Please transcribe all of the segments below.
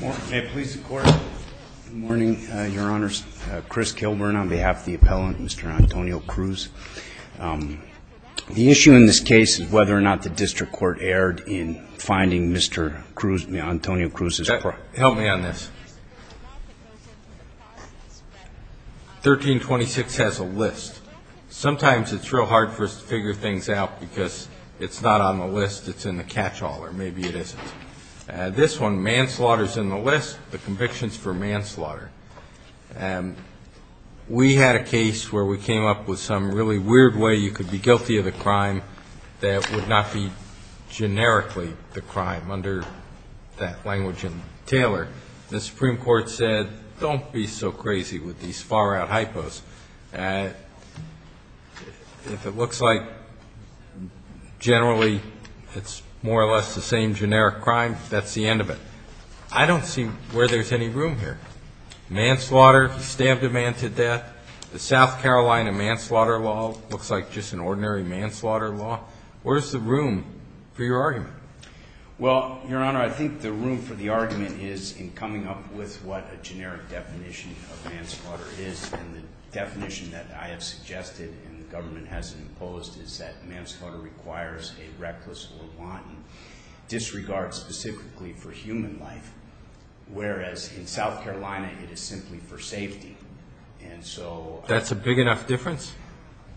May it please the Court. Good morning, Your Honors. Chris Kilburn on behalf of the appellant, Mr. Antonio-Cruz. The issue in this case is whether or not the district court erred in finding Mr. Antonio-Cruz's property. Help me on this. 1326 has a list. Sometimes it's real hard for us to figure things out because it's not on the list, it's in the catchall, or maybe it isn't. This one, manslaughter, is in the list. The conviction is for manslaughter. We had a case where we came up with some really weird way you could be guilty of a crime that would not be generically the crime, under that language in Taylor. The Supreme Court said, don't be so crazy with these far-out hypos. If it looks like generally it's more or less the same generic crime, that's the end of it. I don't see where there's any room here. Manslaughter, the stamp demand to death, the South Carolina manslaughter law looks like just an ordinary manslaughter law. Where's the room for your argument? Well, Your Honor, I think the room for the argument is in coming up with what a generic definition of manslaughter is and the definition that I have suggested and the government has imposed is that manslaughter requires a reckless or wanton disregard specifically for human life, whereas in South Carolina it is simply for safety. That's a big enough difference?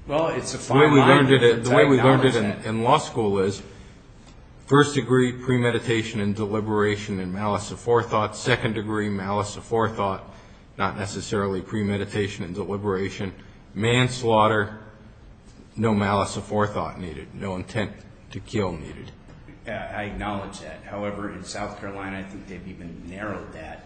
Well, it's a fine line. The way we learned it in law school is first degree premeditation and deliberation and malice of forethought, second degree malice of forethought, not necessarily premeditation and deliberation. Manslaughter, no malice of forethought needed, no intent to kill needed. I acknowledge that. However, in South Carolina I think they've even narrowed that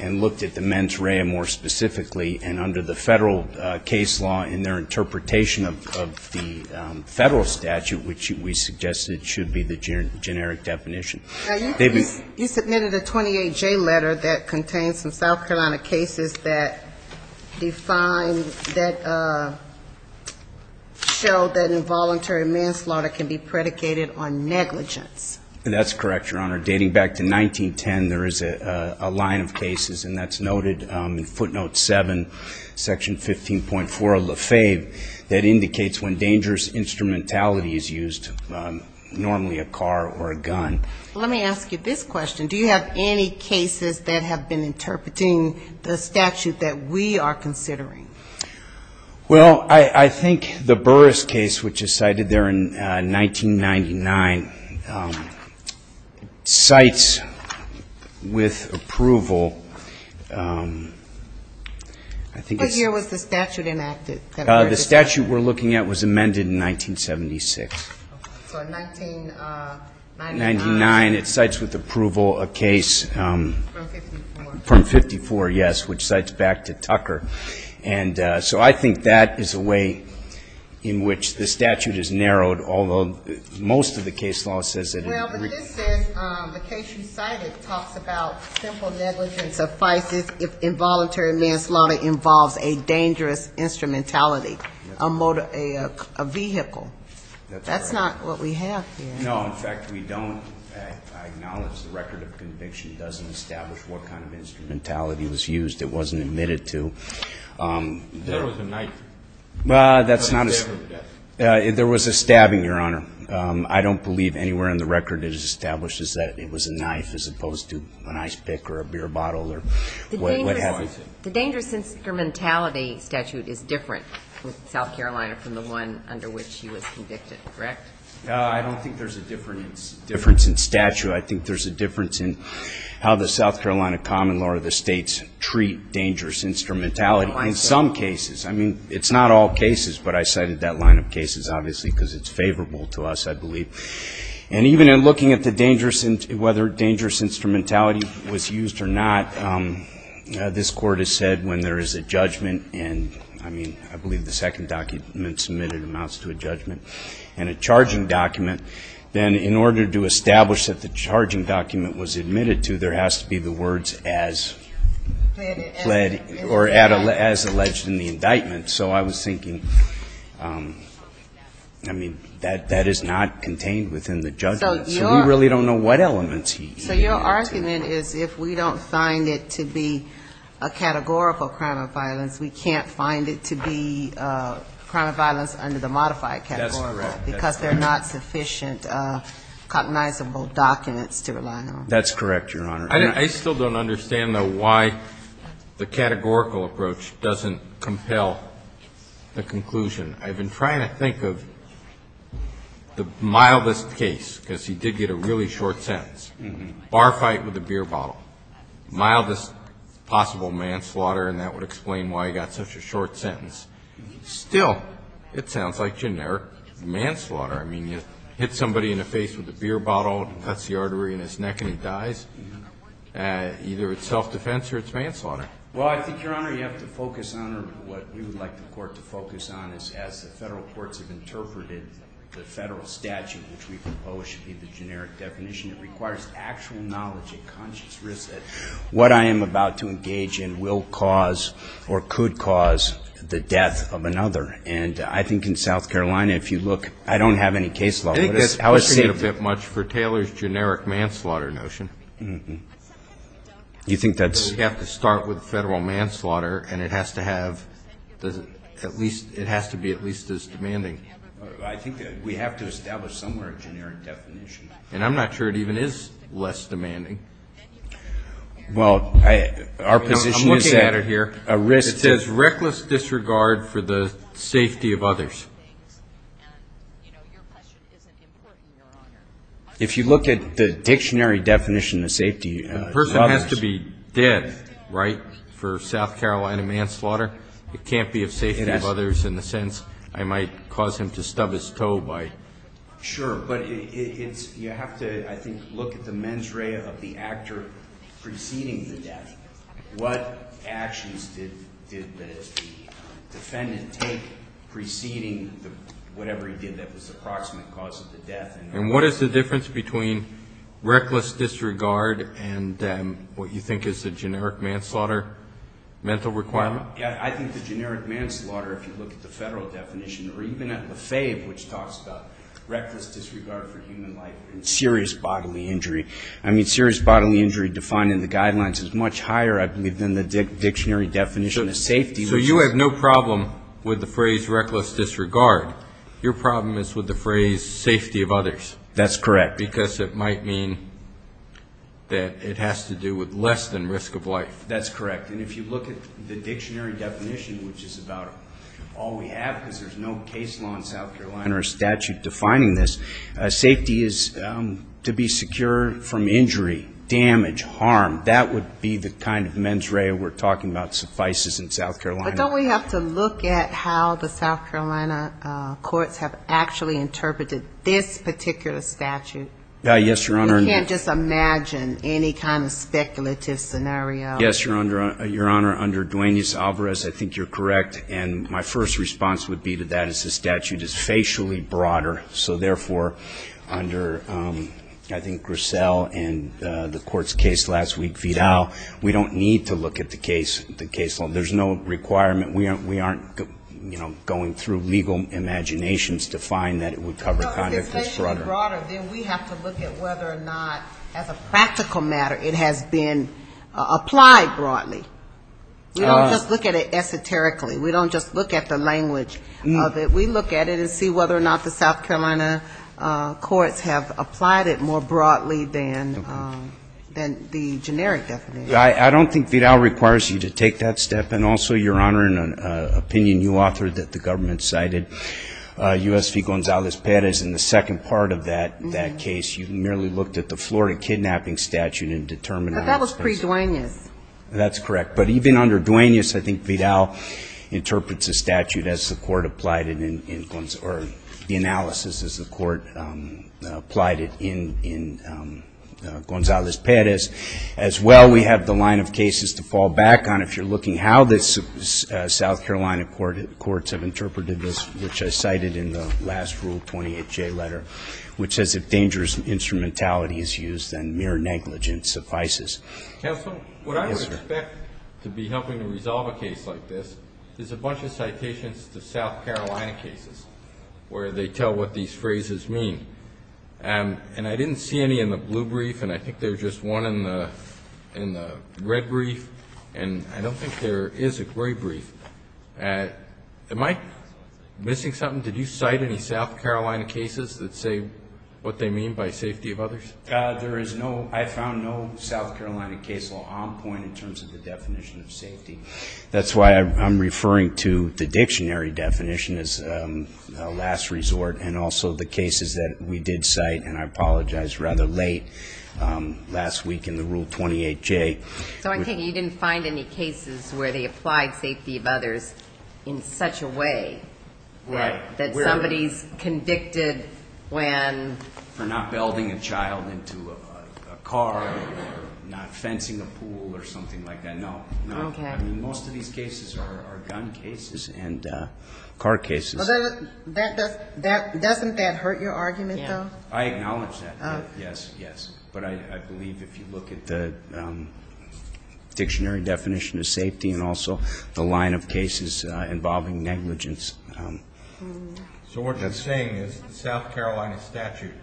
and looked at the mens rea more specifically and under the federal case law in their interpretation of the federal statute, which we suggested should be the generic definition. Now, you submitted a 28J letter that contains some South Carolina cases that define that show that involuntary manslaughter can be predicated on negligence. That's correct, Your Honor. Dating back to 1910, there is a line of cases, and that's noted in footnote 7, section 15.4 of La Fave, that indicates when dangerous instrumentality is used, normally a car or a gun. Let me ask you this question. Do you have any cases that have been interpreting the statute that we are considering? Well, I think the Burris case, which is cited there in 1999, cites with approval, I think it's ‑‑ What year was the statute enacted? The statute we're looking at was amended in 1976. Okay. So in 1999. 1999. It cites with approval a case ‑‑ From 54. From 54, yes, which cites back to Tucker. And so I think that is a way in which the statute is narrowed, although most of the case law says it ‑‑ Well, but it says, the case you cited talks about simple negligence suffices if involuntary manslaughter involves a dangerous instrumentality, a vehicle. That's not what we have here. No. In fact, we don't. I acknowledge the record of conviction doesn't establish what kind of instrumentality was used. It wasn't admitted to. There was a knife. Well, that's not a ‑‑ There was a stabbing, Your Honor. I don't believe anywhere in the record it establishes that it was a knife as opposed to an ice pick or a beer bottle or what have you. The dangerous instrumentality statute is different with South Carolina from the one under which he was convicted, correct? I don't think there's a difference in statute. I think there's a difference in how the South Carolina common law or the states treat dangerous instrumentality in some cases. I mean, it's not all cases, but I cited that line of cases, obviously, because it's favorable to us, I believe. And even in looking at the dangerous ‑‑ whether dangerous instrumentality was used or not, this Court has said when there is a judgment, and, I mean, I believe the second document submitted amounts to a judgment, and a charging document, then in order to establish that the charging document was admitted to, there has to be the words as alleged in the indictment. So I was thinking, I mean, that is not contained within the judgment. So we really don't know what elements he ‑‑ So your argument is if we don't find it to be a categorical crime of violence, we can't find it to be a crime of violence under the modified category. That's correct. Because there are not sufficient cognizable documents to rely on. That's correct, Your Honor. I still don't understand, though, why the categorical approach doesn't compel the conclusion. I've been trying to think of the mildest case, because he did get a really short sentence. Bar fight with a beer bottle. Mildest possible manslaughter, and that would explain why he got such a short sentence. Still, it sounds like generic manslaughter. I mean, you hit somebody in the face with a beer bottle, cuts the artery in his neck, and he dies. Either it's self‑defense or it's manslaughter. Well, I think, Your Honor, you have to focus on, or what we would like the Court to focus on, is as the Federal courts have interpreted the Federal statute, which we propose should be the generic definition, it requires actual knowledge and conscious risk that what I am about to engage in will cause or could cause the death of another. And I think in South Carolina, if you look, I don't have any case law. I think that's pushing it a bit much for Taylor's generic manslaughter notion. You think that's ‑‑ You have to start with Federal manslaughter, and it has to be at least as demanding. I think that we have to establish somewhere a generic definition. And I'm not sure it even is less demanding. Well, I ‑‑ I'm looking at it here. It says reckless disregard for the safety of others. Your question isn't important, Your Honor. If you look at the dictionary definition of safety, the person has to be dead, right, for South Carolina manslaughter. It can't be of safety of others in the sense I might cause him to stub his toe by. Sure. But you have to, I think, look at the mens rea of the actor preceding the death. What actions did the defendant take preceding whatever he did that was the approximate cause of the death? And what is the difference between reckless disregard and what you think is the generic manslaughter mental requirement? I think the generic manslaughter, if you look at the Federal definition, or even at the FAVE, which talks about reckless disregard for human life and serious bodily injury, I mean, serious bodily injury defined in the guidelines is much higher, I believe, than the dictionary definition of safety. So you have no problem with the phrase reckless disregard. Your problem is with the phrase safety of others. That's correct. Because it might mean that it has to do with less than risk of life. That's correct. And if you look at the dictionary definition, which is about all we have, because there's no case law in South Carolina or statute defining this, safety is to be secure from injury, damage, harm. That would be the kind of mens rea we're talking about suffices in South Carolina. But don't we have to look at how the South Carolina courts have actually interpreted this particular statute? Yes, Your Honor. You can't just imagine any kind of speculative scenario. Yes, Your Honor. Under Duaneus Alvarez, I think you're correct, and my first response would be that the statute is facially broader, so therefore under, I think, Griselle and the court's case last week, Vidal, we don't need to look at the case law. There's no requirement. We aren't going through legal imaginations to find that it would cover conduct that's broader. Then we have to look at whether or not, as a practical matter, it has been applied broadly. We don't just look at it esoterically. We don't just look at the language of it. We look at it and see whether or not the South Carolina courts have applied it more broadly than the generic definition. I don't think Vidal requires you to take that step, and also, Your Honor, in an opinion you authored that the government cited, U.S. v. Gonzales-Perez in the second part of that case, you merely looked at the Florida kidnapping statute and determined it was facial. But that was pre-Duaneus. That's correct. But even under Duaneus, I think Vidal interprets the statute as the court applied it, or the analysis as the court applied it in Gonzales-Perez. As well, we have the line of cases to fall back on. If you're looking how the South Carolina courts have interpreted this, which I cited in the last Rule 28J letter, which says if dangerous instrumentality is used, then mere negligence suffices. Counsel? Yes, sir. What I would expect to be helping to resolve a case like this is a bunch of citations to South Carolina cases where they tell what these phrases mean. And I didn't see any in the blue brief, and I think there's just one in the red brief. And I don't think there is a gray brief. Am I missing something? Did you cite any South Carolina cases that say what they mean by safety of others? There is no. I found no South Carolina case law on point in terms of the definition of safety. That's why I'm referring to the dictionary definition as last resort and also the cases that we did cite, and I apologize, rather late last week in the Rule 28J. So I'm thinking you didn't find any cases where they applied safety of others in such a way that somebody's convicted when? For not building a child into a car or not fencing a pool or something like that. No. Okay. I mean, most of these cases are gun cases and car cases. Doesn't that hurt your argument, though? I acknowledge that, yes, yes. But I believe if you look at the dictionary definition of safety and also the line of cases involving negligence. So what you're saying is the South Carolina statute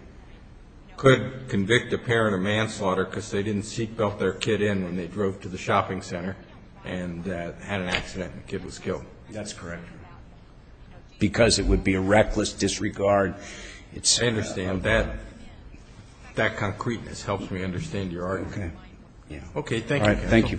could convict a parent of manslaughter because they didn't seat belt their kid in when they drove to the shopping center and had an accident and the kid was killed. That's correct. Because it would be a reckless disregard. I understand that. That concreteness helps me understand your argument. Okay. Thank you. All right. Thank you.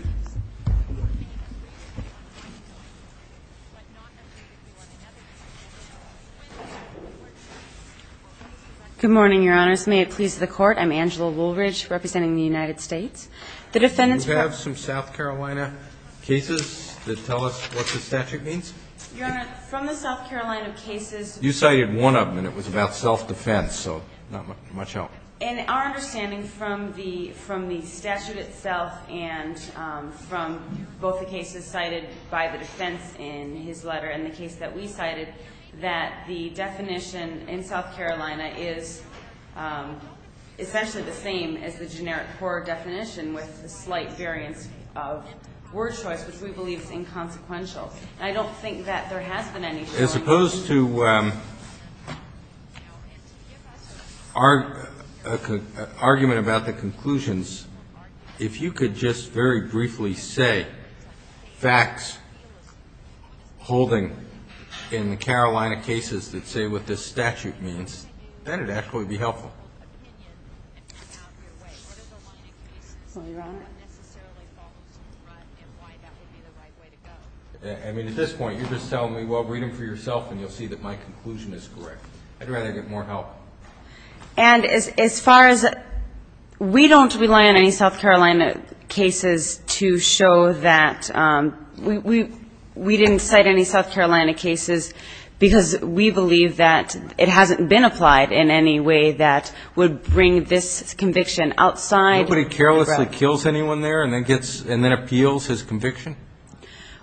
Good morning, Your Honors. May it please the Court. I'm Angela Woolridge representing the United States. You have some South Carolina cases that tell us what the statute means? Your Honor, from the South Carolina cases. You cited one of them, and it was about self-defense, so not much help. In our understanding from the statute itself and from both the cases cited by the defense in his letter and the case that we cited, that the definition in South Carolina is essentially the same as the generic core definition with the slight variance of word choice, which we believe is inconsequential. And I don't think that there has been any choice. As opposed to an argument about the conclusions, if you could just very briefly say facts holding in the Carolina cases that say what this statute means, then it actually would be helpful. Sorry, Your Honor? I mean, at this point, you're just telling me, well, read them for yourself and you'll see that my conclusion is correct. I'd rather get more help. And as far as we don't rely on any South Carolina cases to show that we didn't cite any South Carolina cases because we believe that it hasn't been applied in any way that would bring this conviction outside. Nobody carelessly kills anyone there and then appeals his conviction?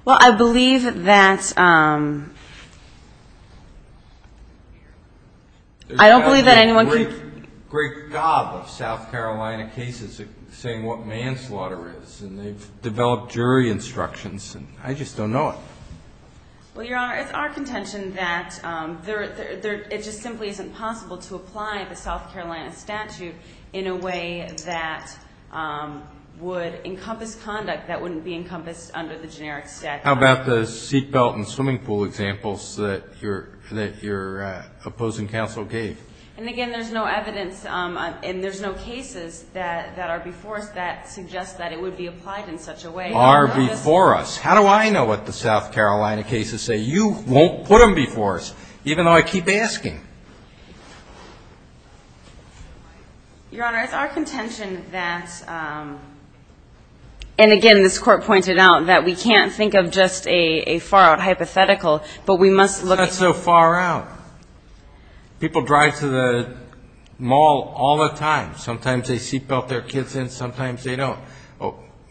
Well, I believe that anyone could. There's a great gob of South Carolina cases saying what manslaughter is, and they've developed jury instructions, and I just don't know it. Well, Your Honor, it's our contention that it just simply isn't possible to apply the South Carolina statute in a way that would encompass conduct that wouldn't be encompassed under the generic statute. How about the seatbelt and swimming pool examples that your opposing counsel gave? And, again, there's no evidence and there's no cases that are before us that suggest that it would be applied in such a way. Are before us. How do I know what the South Carolina cases say? You won't put them before us, even though I keep asking. Your Honor, it's our contention that, and, again, this Court pointed out, that we can't think of just a far-out hypothetical, but we must look at. It's not so far out. People drive to the mall all the time. Sometimes they seatbelt their kids in, sometimes they don't.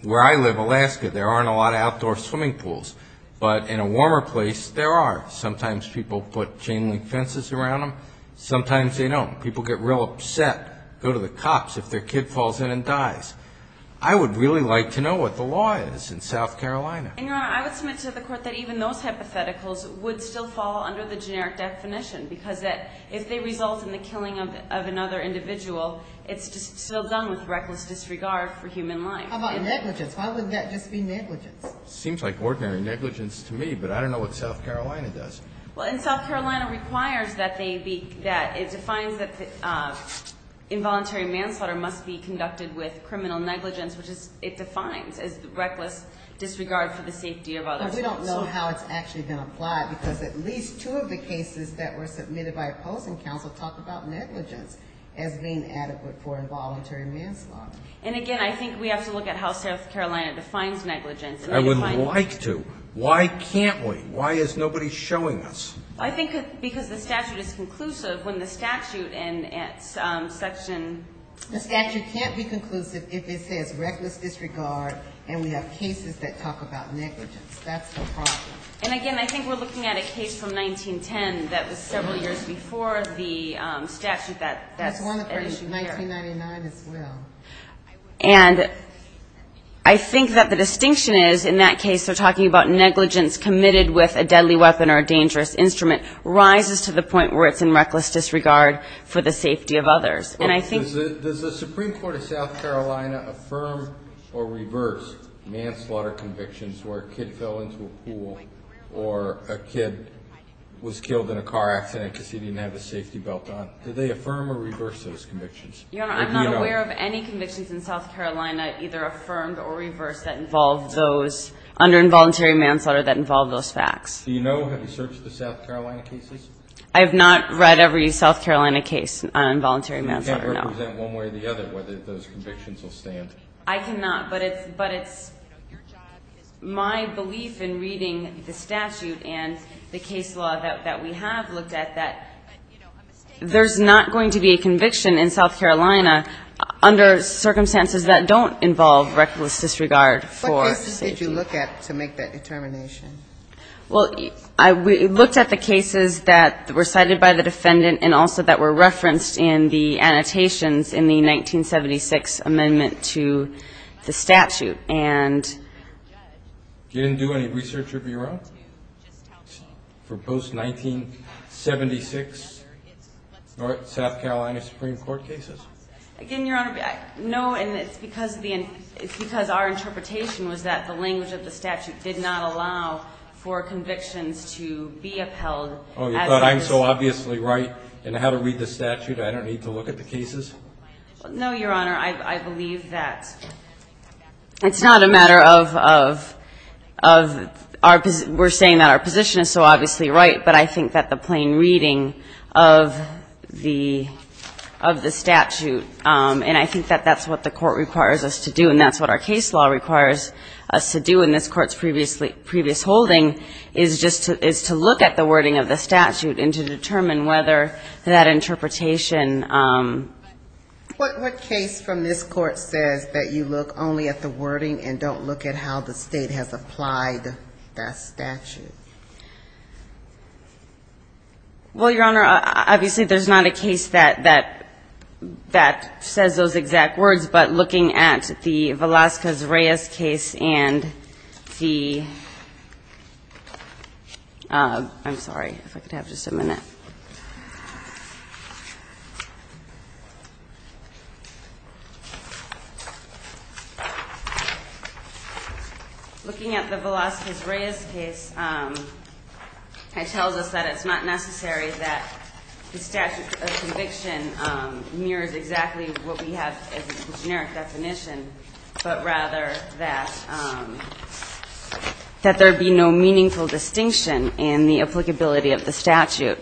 Where I live, Alaska, there aren't a lot of outdoor swimming pools. But in a warmer place, there are. Sometimes people put chain-link fences around them, sometimes they don't. People get real upset, go to the cops if their kid falls in and dies. I would really like to know what the law is in South Carolina. And, Your Honor, I would submit to the Court that even those hypotheticals would still fall under the generic definition because if they result in the killing of another individual, it's still done with reckless disregard for human life. How about negligence? Why wouldn't that just be negligence? It seems like ordinary negligence to me, but I don't know what South Carolina does. Well, and South Carolina requires that it defines that involuntary manslaughter must be conducted with criminal negligence, which it defines as reckless disregard for the safety of others. But we don't know how it's actually going to apply because at least two of the cases that were submitted by opposing counsel talk about negligence as being adequate for involuntary manslaughter. And, again, I think we have to look at how South Carolina defines negligence. I would like to. Why can't we? Why is nobody showing us? I think because the statute is conclusive when the statute and its section ---- The statute can't be conclusive if it says reckless disregard and we have cases that talk about negligence. That's the problem. And, again, I think we're looking at a case from 1910 that was several years before the statute that's an issue here. That's one of our issues, 1999 as well. And I think that the distinction is in that case they're talking about negligence committed with a deadly weapon or a dangerous instrument rises to the point where it's in reckless disregard for the safety of others. And I think ---- Does the Supreme Court of South Carolina affirm or reverse manslaughter convictions where a kid fell into a pool or a kid was killed in a car accident because he didn't have his safety belt on? Do they affirm or reverse those convictions? Your Honor, I'm not aware of any convictions in South Carolina either affirmed or reversed that involve those under involuntary manslaughter that involve those facts. Do you know? Have you searched the South Carolina cases? I have not read every South Carolina case on involuntary manslaughter, no. You can't represent one way or the other whether those convictions will stand. I cannot. But it's my belief in reading the statute and the case law that we have looked at that there's not going to be a conviction in South Carolina under circumstances that don't involve reckless disregard for safety. What cases did you look at to make that determination? Well, we looked at the cases that were cited by the defendant and also that were referenced in the annotations in the 1976 amendment to the statute. You didn't do any research of your own for post-1976 South Carolina Supreme Court cases? Again, Your Honor, no. And it's because our interpretation was that the language of the statute did not allow for convictions to be upheld. Oh, you thought I'm so obviously right in how to read the statute I don't need to look at the cases? No, Your Honor. Your Honor, I believe that it's not a matter of our position. We're saying that our position is so obviously right, but I think that the plain reading of the statute and I think that that's what the court requires us to do and that's what our case law requires us to do in this Court's previous holding is just to look at the wording of the statute and to determine whether that interpretation. What case from this Court says that you look only at the wording and don't look at how the state has applied that statute? Well, Your Honor, obviously there's not a case that says those exact words, but looking at the Velazquez-Reyes case and the – I'm sorry if I could have just a minute. Looking at the Velazquez-Reyes case, it tells us that it's not necessary that the statute of conviction mirrors exactly what we have as a generic definition, but rather that there be no meaningful distinction in the applicability of the statute.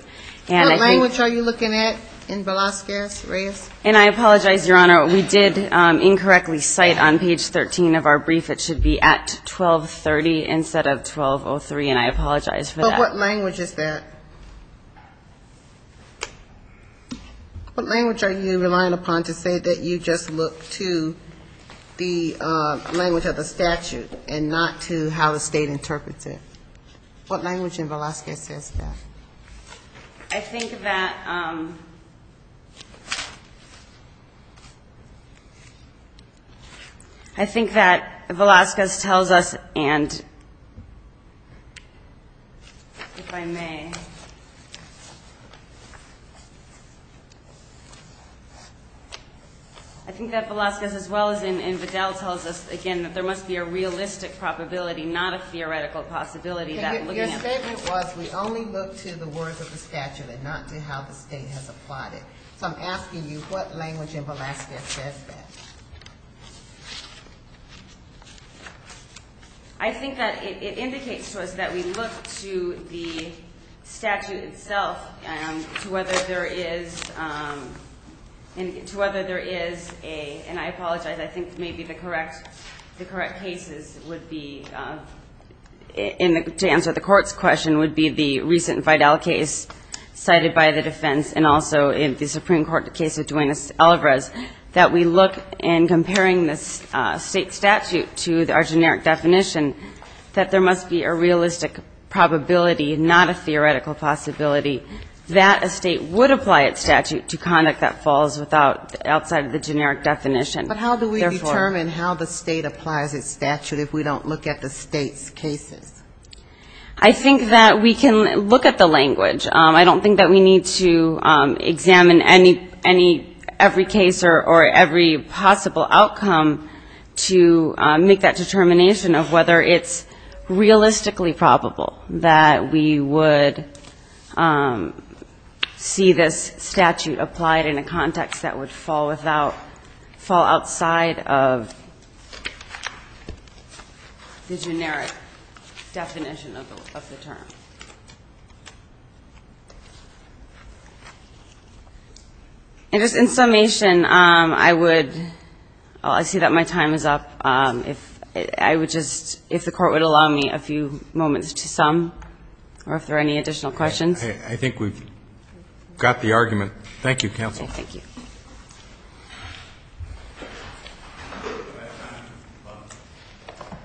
What language are you looking at in Velazquez-Reyes? And I apologize, Your Honor. We did incorrectly cite on page 13 of our brief it should be at 1230 instead of 1203, and I apologize for that. But what language is that? What language are you relying upon to say that you just look to the language of the statute and not to how the State interprets it? What language in Velazquez says that? I think that – I think that Velazquez tells us, and if I may, I think that Velazquez as well as in Vidal tells us, again, that there must be a realistic probability, not a theoretical possibility that looking at – looking to the words of the statute and not to how the State has applied it. So I'm asking you, what language in Velazquez says that? I think that it indicates to us that we look to the statute itself to whether there is – to whether there is a – and I apologize, I think maybe the correct – the correct cases would be – to answer the Court's question would be the recent Vidal case cited by the defense and also in the Supreme Court case of Duenas-Alvarez, that we look in comparing the State statute to our generic definition that there must be a realistic probability, not a theoretical possibility, that a State would apply its statute to conduct that falls without – outside of the generic definition. But how do we determine how the State applies its statute if we don't look at the State's cases? I think that we can look at the language. I don't think that we need to examine any – every case or every possible outcome to make that determination of whether it's realistically probable that we would see this statute applied in a context that would fall without – fall outside of the generic definition of the term. And just in summation, I would – I see that my time is up. If I would just – if the Court would allow me a few moments to sum or if there are any additional questions. I think we've got the argument. Thank you, counsel. Thank you.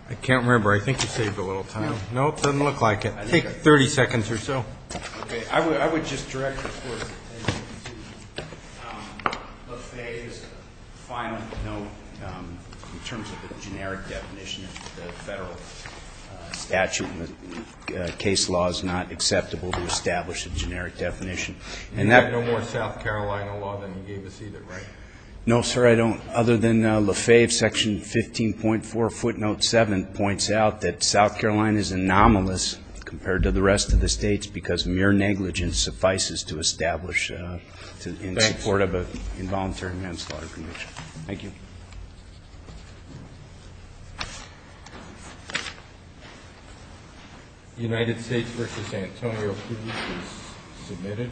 I can't remember. I think you saved a little time. No, it doesn't look like it. I think 30 seconds or so. Okay. I would just direct the Court's attention to Lefebvre's final note in terms of the generic definition of the federal statute. Case law is not acceptable to establish a generic definition. And that – You have no more South Carolina law than you gave us either, right? No, sir, I don't. Other than Lefebvre, Section 15.4 footnote 7 points out that South Carolina is anomalous compared to the rest of the States because mere negligence suffices to establish in support of an involuntary manslaughter condition. Thank you. Thank you. United States versus Antonio privilege is submitted.